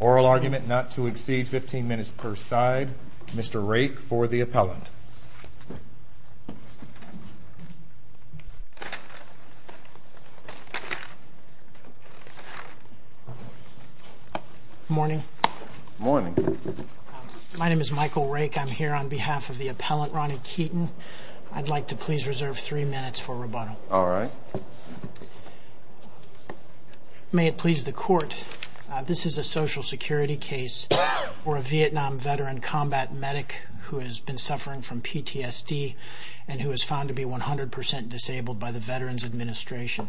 Oral argument not to exceed 15 minutes per side. Mr. Rake for the appellant. Morning. Morning. My name is Michael Rake. I'm here on behalf of the appellant. We're on behalf of the appellant. I'd like to please reserve three minutes for rebuttal. All right. May it please the court, this is a Social Security case for a Vietnam veteran combat medic who has been suffering from PTSD and who is found to be 100% disabled by the Veterans Administration.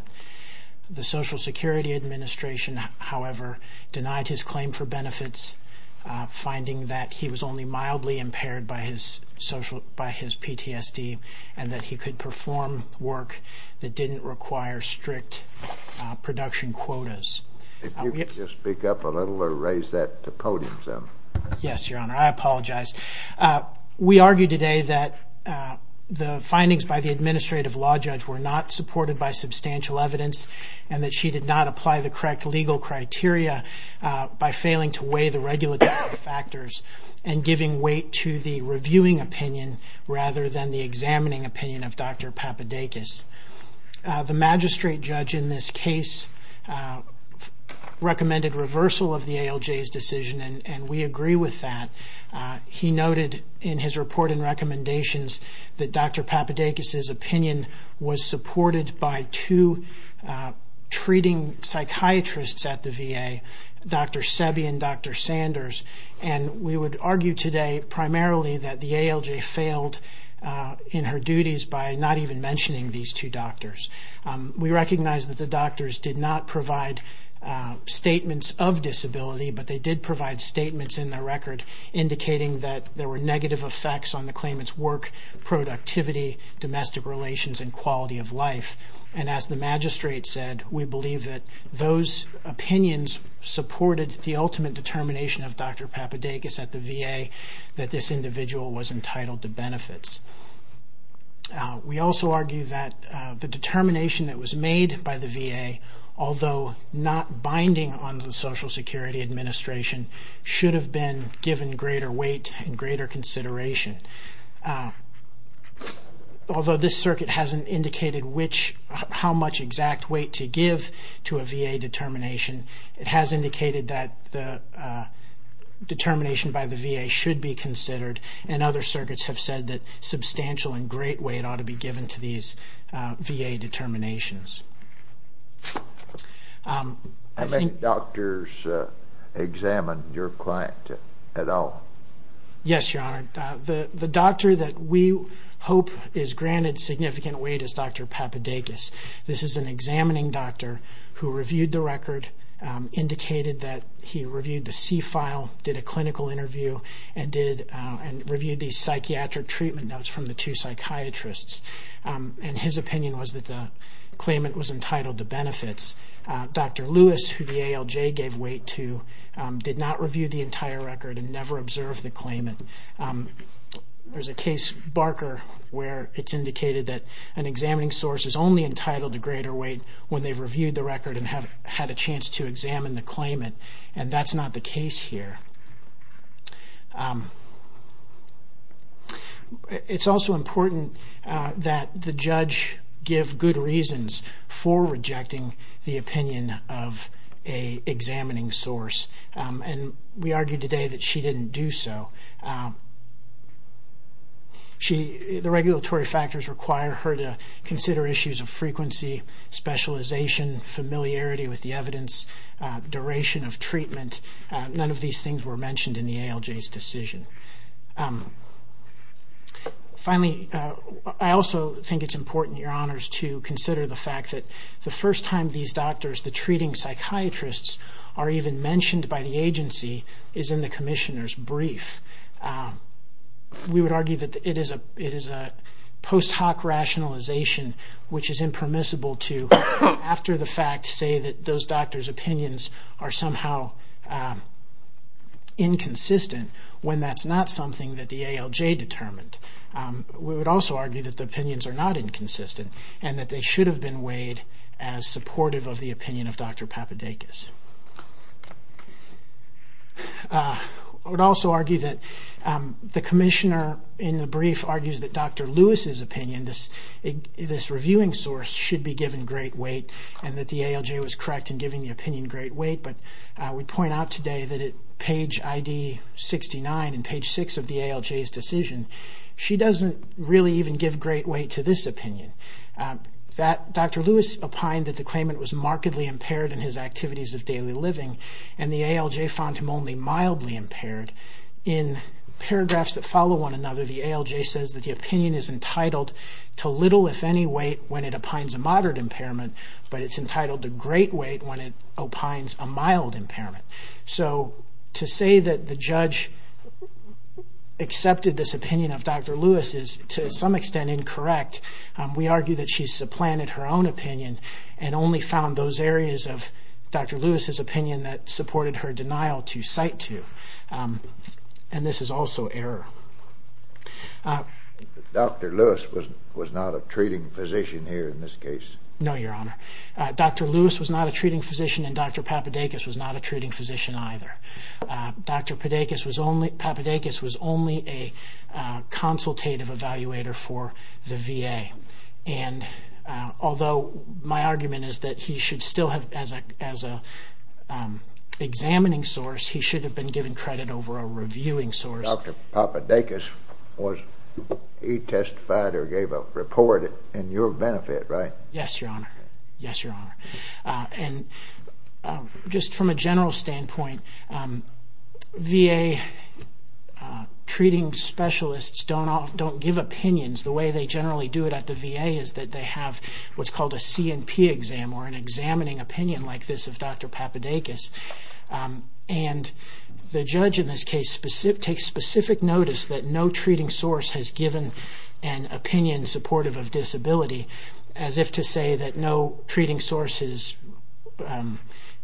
The Social Security Administration, however, denied his claim for benefits, finding that he was only mildly impaired by his PTSD and that he could perform work that didn't require strict production quotas. If you could just speak up a little or raise that to podium some. Yes, Your Honor. I apologize. We argue today that the findings by the Administrative Law Judge were not supported by substantial evidence and that she did not apply the correct legal criteria by failing to weigh the regulatory factors and giving weight to the reviewing opinion rather than the examining opinion of Dr. Papadakis. The magistrate judge in this case recommended reversal of the ALJ's decision and we agree with that. He noted in his report and recommendations that Dr. Papadakis's opinion was supported by two treating psychiatrists at the VA, Dr. Sebi and Dr. Sanders, and we would argue today primarily that the ALJ failed in her duties by not even mentioning these two doctors. We recognize that the doctors did not provide statements of disability, but they did provide statements in their record indicating that there were negative effects on the claimant's work, productivity, domestic relations and quality of life. And as the magistrate said, we believe that those opinions supported the ultimate determination of Dr. Papadakis at the VA that this individual was entitled to benefits. We also argue that the determination that was made by the VA, although not binding on the Social Security Administration, should have been given greater weight and greater consideration. Although this circuit hasn't indicated how much exact weight to give to a VA determination, it has indicated that the determination by the VA should be considered and other circuits have said that substantial and great weight ought to be given to these VA determinations. How many doctors examined your client at all? Yes, Your Honor. The doctor that we hope is granted significant weight is Dr. Papadakis. This is an examining doctor who reviewed the record, indicated that he reviewed the C-file, did a clinical interview and reviewed these psychiatric treatment notes from the two psychiatrists. And his opinion was that the claimant was entitled to benefits. Dr. Lewis, who the ALJ gave weight to, did not review the entire record and never observed the claimant. There's a case, Barker, where it's indicated that an examining source is only entitled to greater weight when they've reviewed the record and have had a chance to examine the claimant. And that's not the case here. It's also important that the judge give good reasons for rejecting the opinion of an examining source and we argued today that she didn't do so. The regulatory factors require her to consider issues of frequency, specialization, familiarity with the evidence, duration of sessions were mentioned in the ALJ's decision. Finally, I also think it's important, Your Honors, to consider the fact that the first time these doctors, the treating psychiatrists, are even mentioned by the agency is in the commissioner's brief. We would argue that it is a post hoc rationalization which is inconsistent when that's not something that the ALJ determined. We would also argue that the opinions are not inconsistent and that they should have been weighed as supportive of the opinion of Dr. Papadakis. I would also argue that the commissioner in the brief argues that Dr. Lewis's opinion, this reviewing source, should be given great weight and that the ALJ was correct in giving the opinion great weight, but I would point out today that at page ID 69 and page 6 of the ALJ's decision, she doesn't really even give great weight to this opinion. Dr. Lewis opined that the claimant was markedly impaired in his activities of daily living and the ALJ found him only mildly impaired. In paragraphs that follow one another, the ALJ says that the opinion is entitled to little, if any, weight when it opines a moderate impairment, but it's entitled to great weight when it opines a mild impairment. So to say that the judge accepted this opinion of Dr. Lewis is to some extent incorrect. We argue that she supplanted her own opinion and only found those areas of Dr. Lewis's opinion that supported her denial to cite to, and this is also error. Dr. Lewis was not a treating physician here in this case. No, Your Honor. Dr. Lewis was not a treating physician and Dr. Papadakis was not a treating physician either. Dr. Papadakis was only a consultative evaluator for the VA, and although my argument is that he should still have, as an examining source, he should have been given credit over a reviewing source. Dr. Papadakis was, he testified or gave a report in your benefit, right? Yes, Your Honor. Yes, Your Honor. And just from a general standpoint, VA treating specialists don't give opinions. The way they generally do it at the VA is that they have what's called a C&P exam or an examining opinion like this of Dr. Papadakis, and the judge in this case takes specific notice that no treating source has given an opinion supportive of disability, as if to say that no treating source has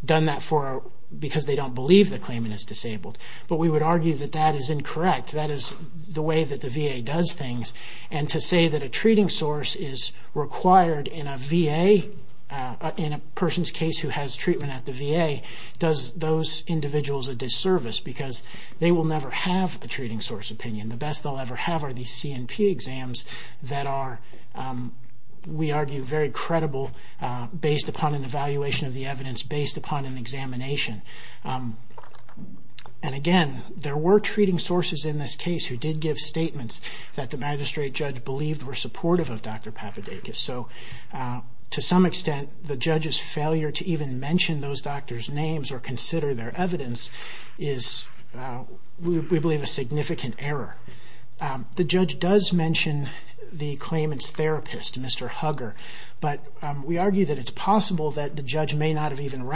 done that for her because they don't believe the claimant is disabled. But we would argue that that is incorrect. That is the way that the VA, in a person's case who has treatment at the VA, does those individuals a disservice because they will never have a treating source opinion. The best they'll ever have are these C&P exams that are, we argue, very credible based upon an evaluation of the evidence, based upon an examination. And again, there were treating sources in this case who did give statements that the magistrate judge believed were supportive of Dr. Papadakis. So to some extent, the judge's failure to even mention those doctors' names or consider their evidence is, we believe, a significant error. The judge does mention the claimant's therapist, Mr. Hugger, but we argue that it's possible that the judge may not have even in her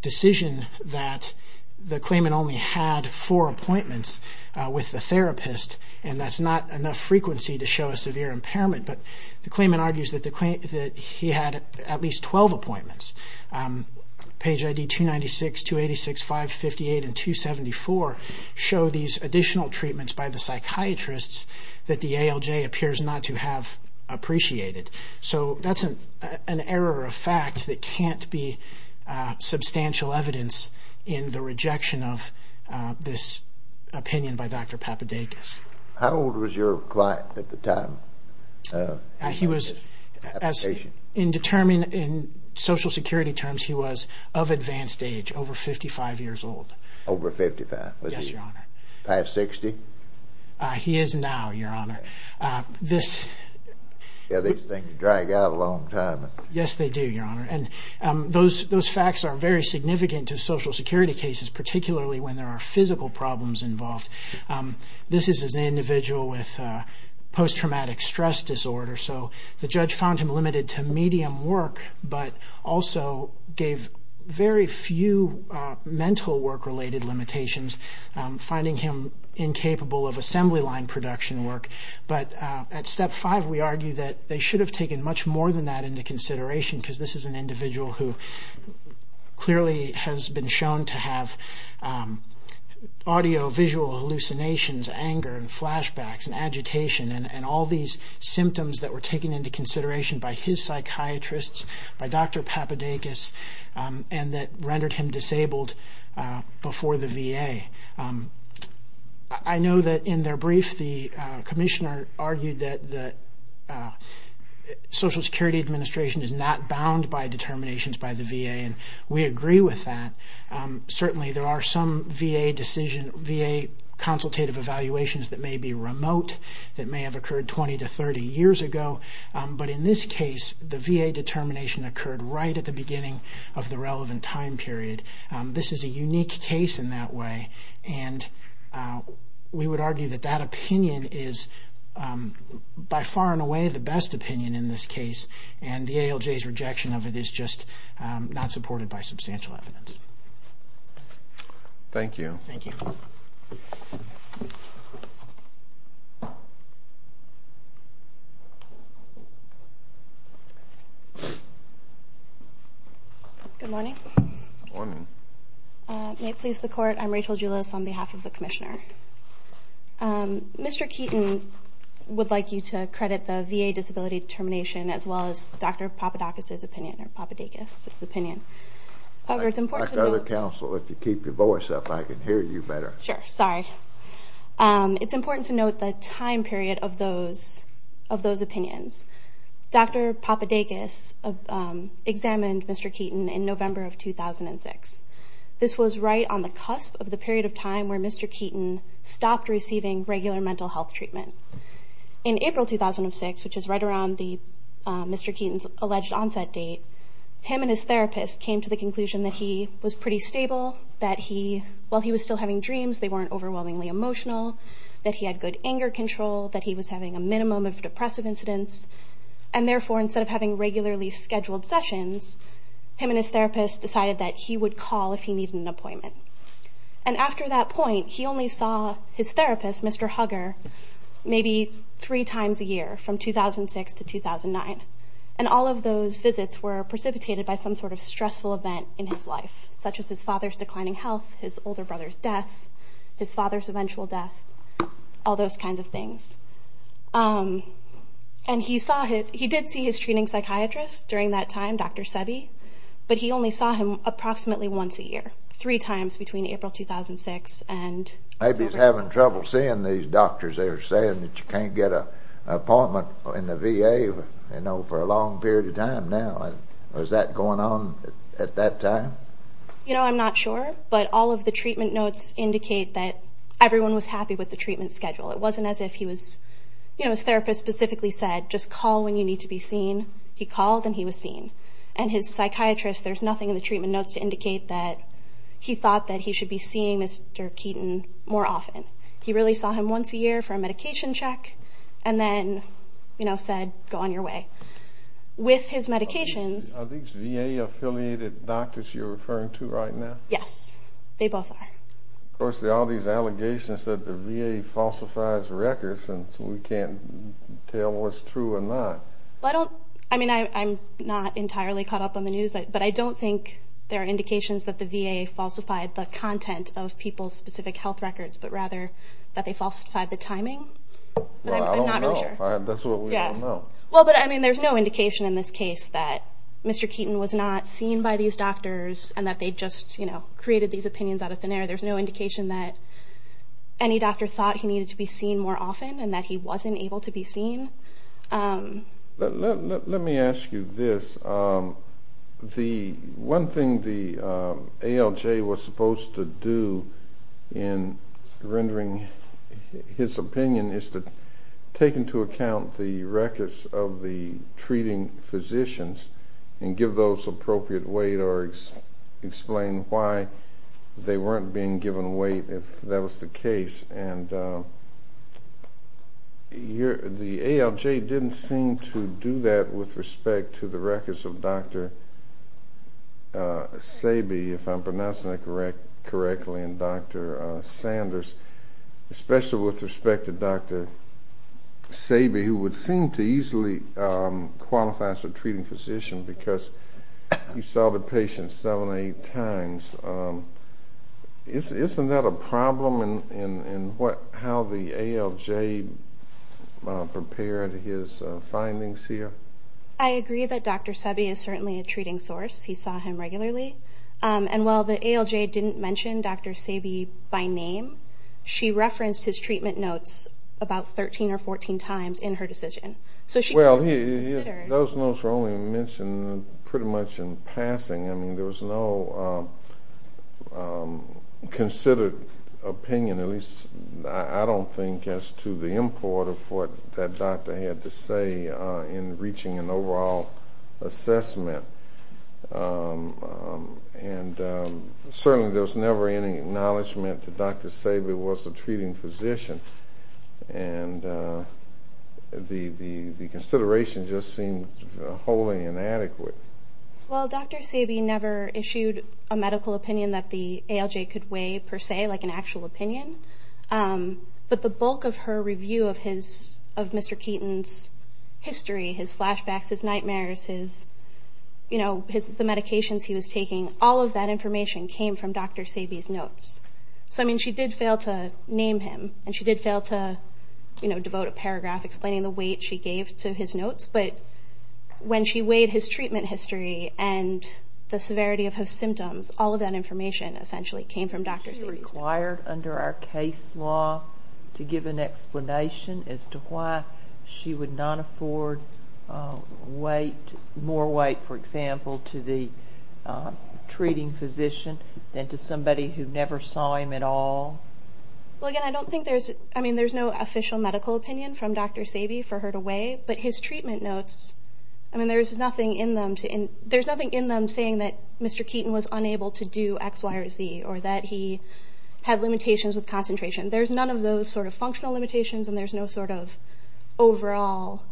decision that the claimant only had four appointments with the therapist, and that's not enough frequency to show a severe impairment. But the claimant argues that he had at least 12 appointments. Page ID 296, 286, 558, and 274 show these additional treatments by the psychiatrists that the ALJ appears not to have appreciated. So that's an error of fact that can't be substantial evidence in the rejection of this opinion by Dr. Papadakis. How old was your client at the time? He was, in social security terms, he was of advanced age, over 55 years old. Over 55? Yes, Your Honor. 560? He is now, Your Honor. These things drag out a long time. Yes, they do, Your Honor, and those facts are very significant to social security cases, particularly when there are physical problems involved. This is an individual with post-traumatic stress disorder, so the judge found him limited to medium work, but also gave very few mental work-related limitations, finding him incapable of assembly line production work. But at step five, we argue that they should have taken much more than that into consideration because this is an individual who clearly has been shown to have audio-visual hallucinations, anger, and flashbacks, and agitation, and all these symptoms that were found in Dr. Papadakis, and that rendered him disabled before the VA. I know that in their brief, the commissioner argued that the Social Security Administration is not bound by determinations by the VA, and we agree with that. Certainly, there are some VA decision, VA consultative evaluations that may be remote, that may have occurred 20 to 30 years ago, but in this case, the VA determination occurred right at the beginning of the relevant time period. This is a unique case in that way, and we would argue that that opinion is by far and away the best opinion in this case, and the ALJ's rejection of it is just not supported by substantial evidence. Thank you. Thank you. Good morning. Good morning. May it please the Court, I'm Rachel Julis on behalf of the Commissioner. Mr. Keeton would like you to credit the VA disability determination as well as Dr. Papadakis' opinion. However, it's important to note... Like other counsel, if you keep your voice up, I can hear you better. Sure. Sorry. It's important to note the time period of those opinions. Dr. Papadakis examined Mr. Keeton in November of 2006. This was right on the cusp of the period of time where Mr. Keeton stopped receiving regular mental health treatment. In April 2006, which is right around Mr. Keeton's alleged onset date, him and his therapist came to the conclusion that he was pretty stable, that while he was still having dreams, they weren't overwhelmingly emotional, that he had good anger control, that he was having a minimum of depressive incidents, and therefore, instead of having regularly scheduled sessions, him and his therapist decided that he would call if he needed an appointment. And after that point, he only his therapist, Mr. Hugger, maybe three times a year from 2006 to 2009. And all of those visits were precipitated by some sort of stressful event in his life, such as his father's declining health, his older brother's death, his father's eventual death, all those kinds of things. And he did see his treating psychiatrist during that time, Dr. Sebi, but he only saw him approximately once a year, three times between April 2006 and... Maybe he's having trouble seeing these doctors. They're saying that you can't get an appointment in the VA, you know, for a long period of time now. Was that going on at that time? You know, I'm not sure, but all of the treatment notes indicate that everyone was happy with the treatment schedule. It wasn't as if he was, you know, his therapist specifically said, just call when you need to be seen. He called, and he was seen. And his psychiatrist, there's nothing in the treatment notes to indicate that he thought that he should be seeing Mr. Keaton more often. He really saw him once a year for a medication check, and then, you know, said, go on your way. With his medications... Are these VA-affiliated doctors you're referring to right now? Yes, they both are. Of course, all these allegations that the VA falsifies records, and so we can't tell what's true or not. Well, I don't, I mean, I'm not entirely caught up on the news, but I don't think there are any allegations that they falsified the content of people's specific health records, but rather that they falsified the timing. Well, I don't know. That's what we don't know. Well, but I mean, there's no indication in this case that Mr. Keaton was not seen by these doctors and that they just, you know, created these opinions out of thin air. There's no indication that any doctor thought he needed to be seen more often and that he wasn't able to be seen. Let me ask you this. The one thing the ALJ was supposed to do in rendering his opinion is to take into account the records of the treating physicians and give those appropriate weight or explain why they weren't being given weight, if that was the case. And the ALJ didn't seem to do that with respect to the records of Dr. Sabe, if I'm pronouncing that correctly, and Dr. Sanders, especially with respect to Dr. Sabe, who would seem to easily qualify as a treating physician because he saw the patient seven, eight times. Isn't that a problem in how the ALJ prepared his findings here? I agree that Dr. Sabe is certainly a treating source. He saw him regularly. And while the ALJ didn't mention Dr. Sabe by name, she referenced his treatment notes about 13 or 14 times in her decision. Well, those notes were only mentioned pretty much in passing. I mean, there was no consideration or opinion, at least I don't think, as to the import of what that doctor had to say in reaching an overall assessment. And certainly there was never any acknowledgment that Dr. Sabe was a treating physician. And the consideration just seemed wholly inadequate. Well, Dr. Sabe never issued a medical opinion that the ALJ could weigh, per se, like an actual opinion. But the bulk of her review of Mr. Keaton's history, his flashbacks, his nightmares, his, you know, the medications he was taking, all of that information came from Dr. Sabe's notes. So, I mean, she did fail to name him, and she did fail to, you know, devote a paragraph explaining the weight she gave to his notes. But when she weighed his treatment history and the severity of his symptoms, all of that information essentially came from Dr. Sabe's notes. Was she required under our case law to give an explanation as to why she would not afford weight, more weight, for example, to the treating physician than to somebody who never saw him at all? Well, again, I don't think there's, I mean, there's no official medical opinion from Dr. Sabe's treatment notes. I mean, there's nothing in them to, there's nothing in them saying that Mr. Keaton was unable to do X, Y, or Z, or that he had limitations with concentration. There's none of those sort of functional limitations, and there's no sort of overall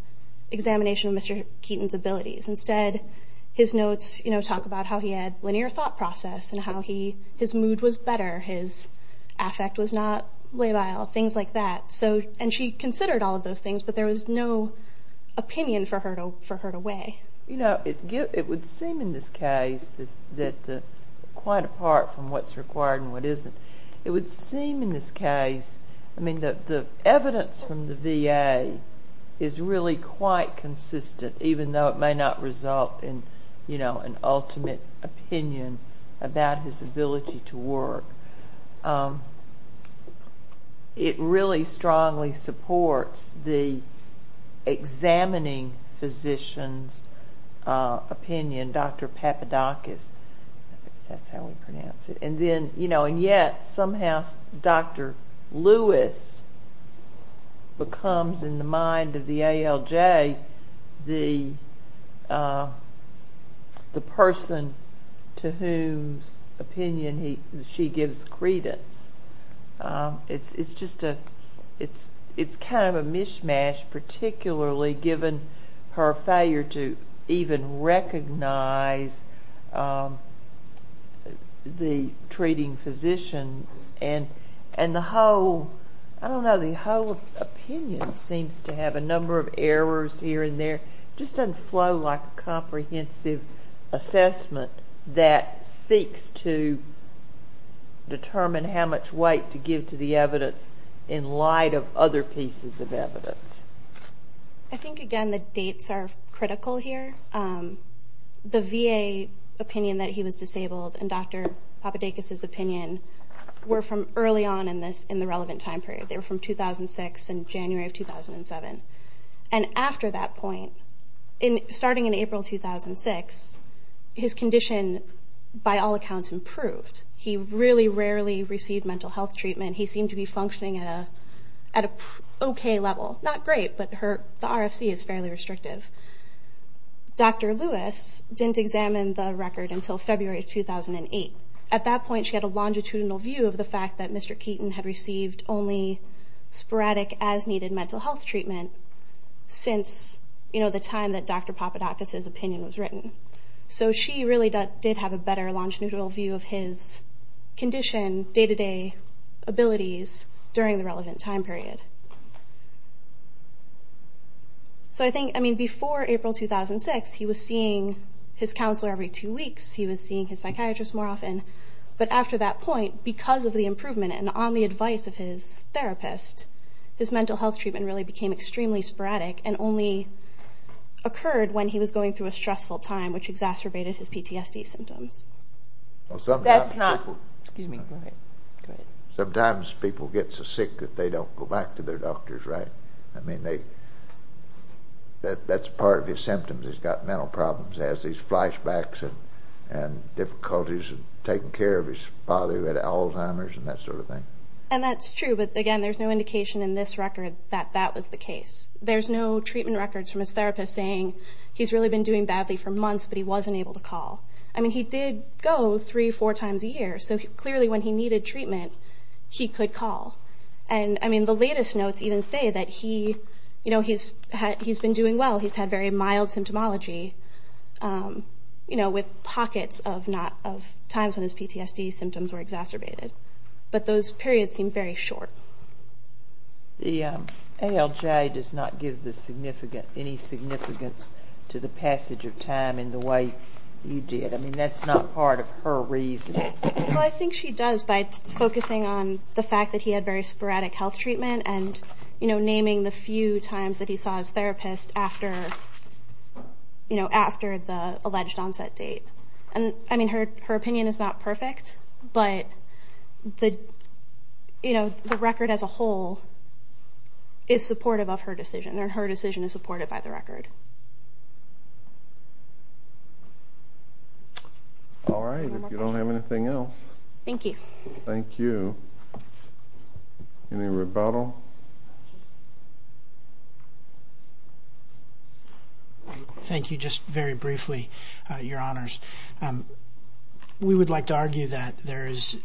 examination of Mr. Keaton's abilities. Instead, his notes, you know, talk about how he had linear thought process and how he, his mood was better, his affect was not labile, things like that. So, and she considered all of those things, but there was no opinion for her to weigh. You know, it would seem in this case that quite apart from what's required and what isn't, it would seem in this case, I mean, the evidence from the VA is really quite consistent even though it may not result in, you know, an ultimate opinion about his ability to work. It really strongly supports the examining physician's opinion, Dr. Papadakis, I think that's how we pronounce it, and then, you know, and yet somehow Dr. Lewis becomes in the mind of the ALJ the person to whose opinion she gives the opinion. It's just a, it's kind of a mishmash, particularly given her failure to even recognize the treating physician and the whole, I don't know, the whole opinion seems to have a number of errors here and there. It just doesn't flow like a comprehensive assessment that seeks to, to determine how much weight to give to the evidence in light of other pieces of evidence. I think, again, the dates are critical here. The VA opinion that he was disabled and Dr. Papadakis' opinion were from early on in this, in the relevant time period. They were from 2006 and January of 2007, and after that point, starting in April 2006, his condition by all means, he had barely received mental health treatment. He seemed to be functioning at a, at a okay level. Not great, but her, the RFC is fairly restrictive. Dr. Lewis didn't examine the record until February of 2008. At that point, she had a longitudinal view of the fact that Mr. Keaton had received only sporadic as-needed mental health treatment since, you know, the time that Dr. Papadakis' opinion was written. So she really did have a better longitudinal view of his condition, day-to-day abilities during the relevant time period. So I think, I mean, before April 2006, he was seeing his counselor every two weeks. He was seeing his psychiatrist more often. But after that point, because of the improvement and on the advice of his therapist, his mental health treatment really became extremely sporadic and only occurred when he was going through a stressful time, which exacerbated his PTSD symptoms. Well, sometimes people... That's not... Excuse me. Go ahead. Go ahead. Sometimes people get so sick that they don't go back to their doctors, right? I mean, they, that's part of his symptoms. He's got mental problems. He has these flashbacks and, and difficulties in taking care of his father who had Alzheimer's and that sort of thing. And that's true, but again, there's no indication in this record that that was the case. There's no treatment records from his therapist saying he's really been doing badly for months, but he wasn't able to call. I mean, he did go three, four times a year. So clearly when he needed treatment, he could call. And I mean, the latest notes even say that he, you know, he's, he's been doing well. He's had very mild symptomology, you know, with pockets of not, of times when his PTSD symptoms were exacerbated. But those periods seem very short. The ALJ does not give the significant, any significance to the passage of time in the way you did. I mean, that's not part of her reasoning. Well, I think she does by focusing on the fact that he had very sporadic health treatment and, you know, naming the few times that he saw his therapist after, you know, after the alleged onset date. And I mean, her, her opinion is not perfect, but the, you know, the record as a whole is supportive of her decision, or her decision is supported by the record. All right. If you don't have anything else. Thank you. Thank you. Any rebuttal? Thank you. Just very briefly, your honors. We would like to argue that there is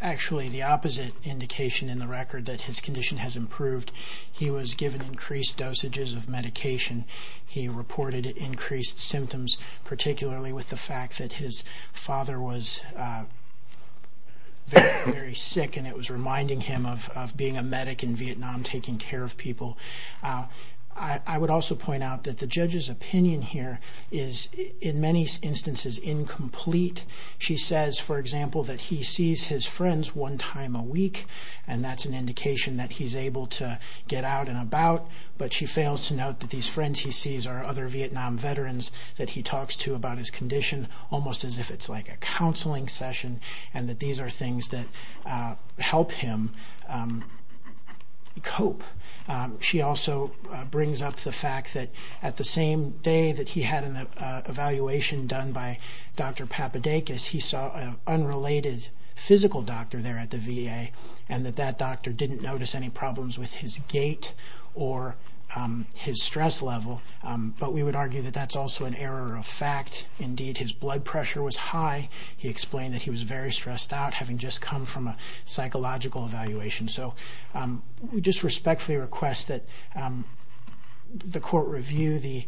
actually the opposite indication in the record that his condition has improved. He was given increased dosages of medication. He reported increased symptoms, particularly with the fact that his father was very, very sick, and it was reminding him of, of being a medic in Vietnam, taking care of people. I would also point out that the judge's opinion here is in many instances incomplete. She says, for example, that he sees his friends one time a week, and that's an indication that he's able to get out and about, but she fails to note that these friends he sees are other Vietnam veterans that he talks to about his condition, almost as if it's like a counseling session, and that these are things that help him cope. She also brings up the fact that at the same day that he had an evaluation done by Dr. Papadakis, he saw an unrelated physical doctor there at the VA, and that that doctor didn't notice any problems with his gait or his stress level, but we would argue that that's also an error of fact. Indeed, his blood pressure was high. He explained that he was very stressed out, having just come from a psychological evaluation. So, we just respectfully request that the court review the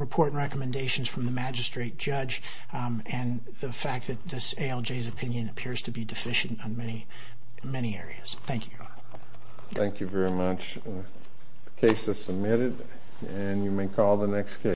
report and recommendations from the magistrate judge, and the fact that this ALJ's opinion appears to be deficient on many, many areas. Thank you. Thank you very much. The case is submitted, and you may call the next case.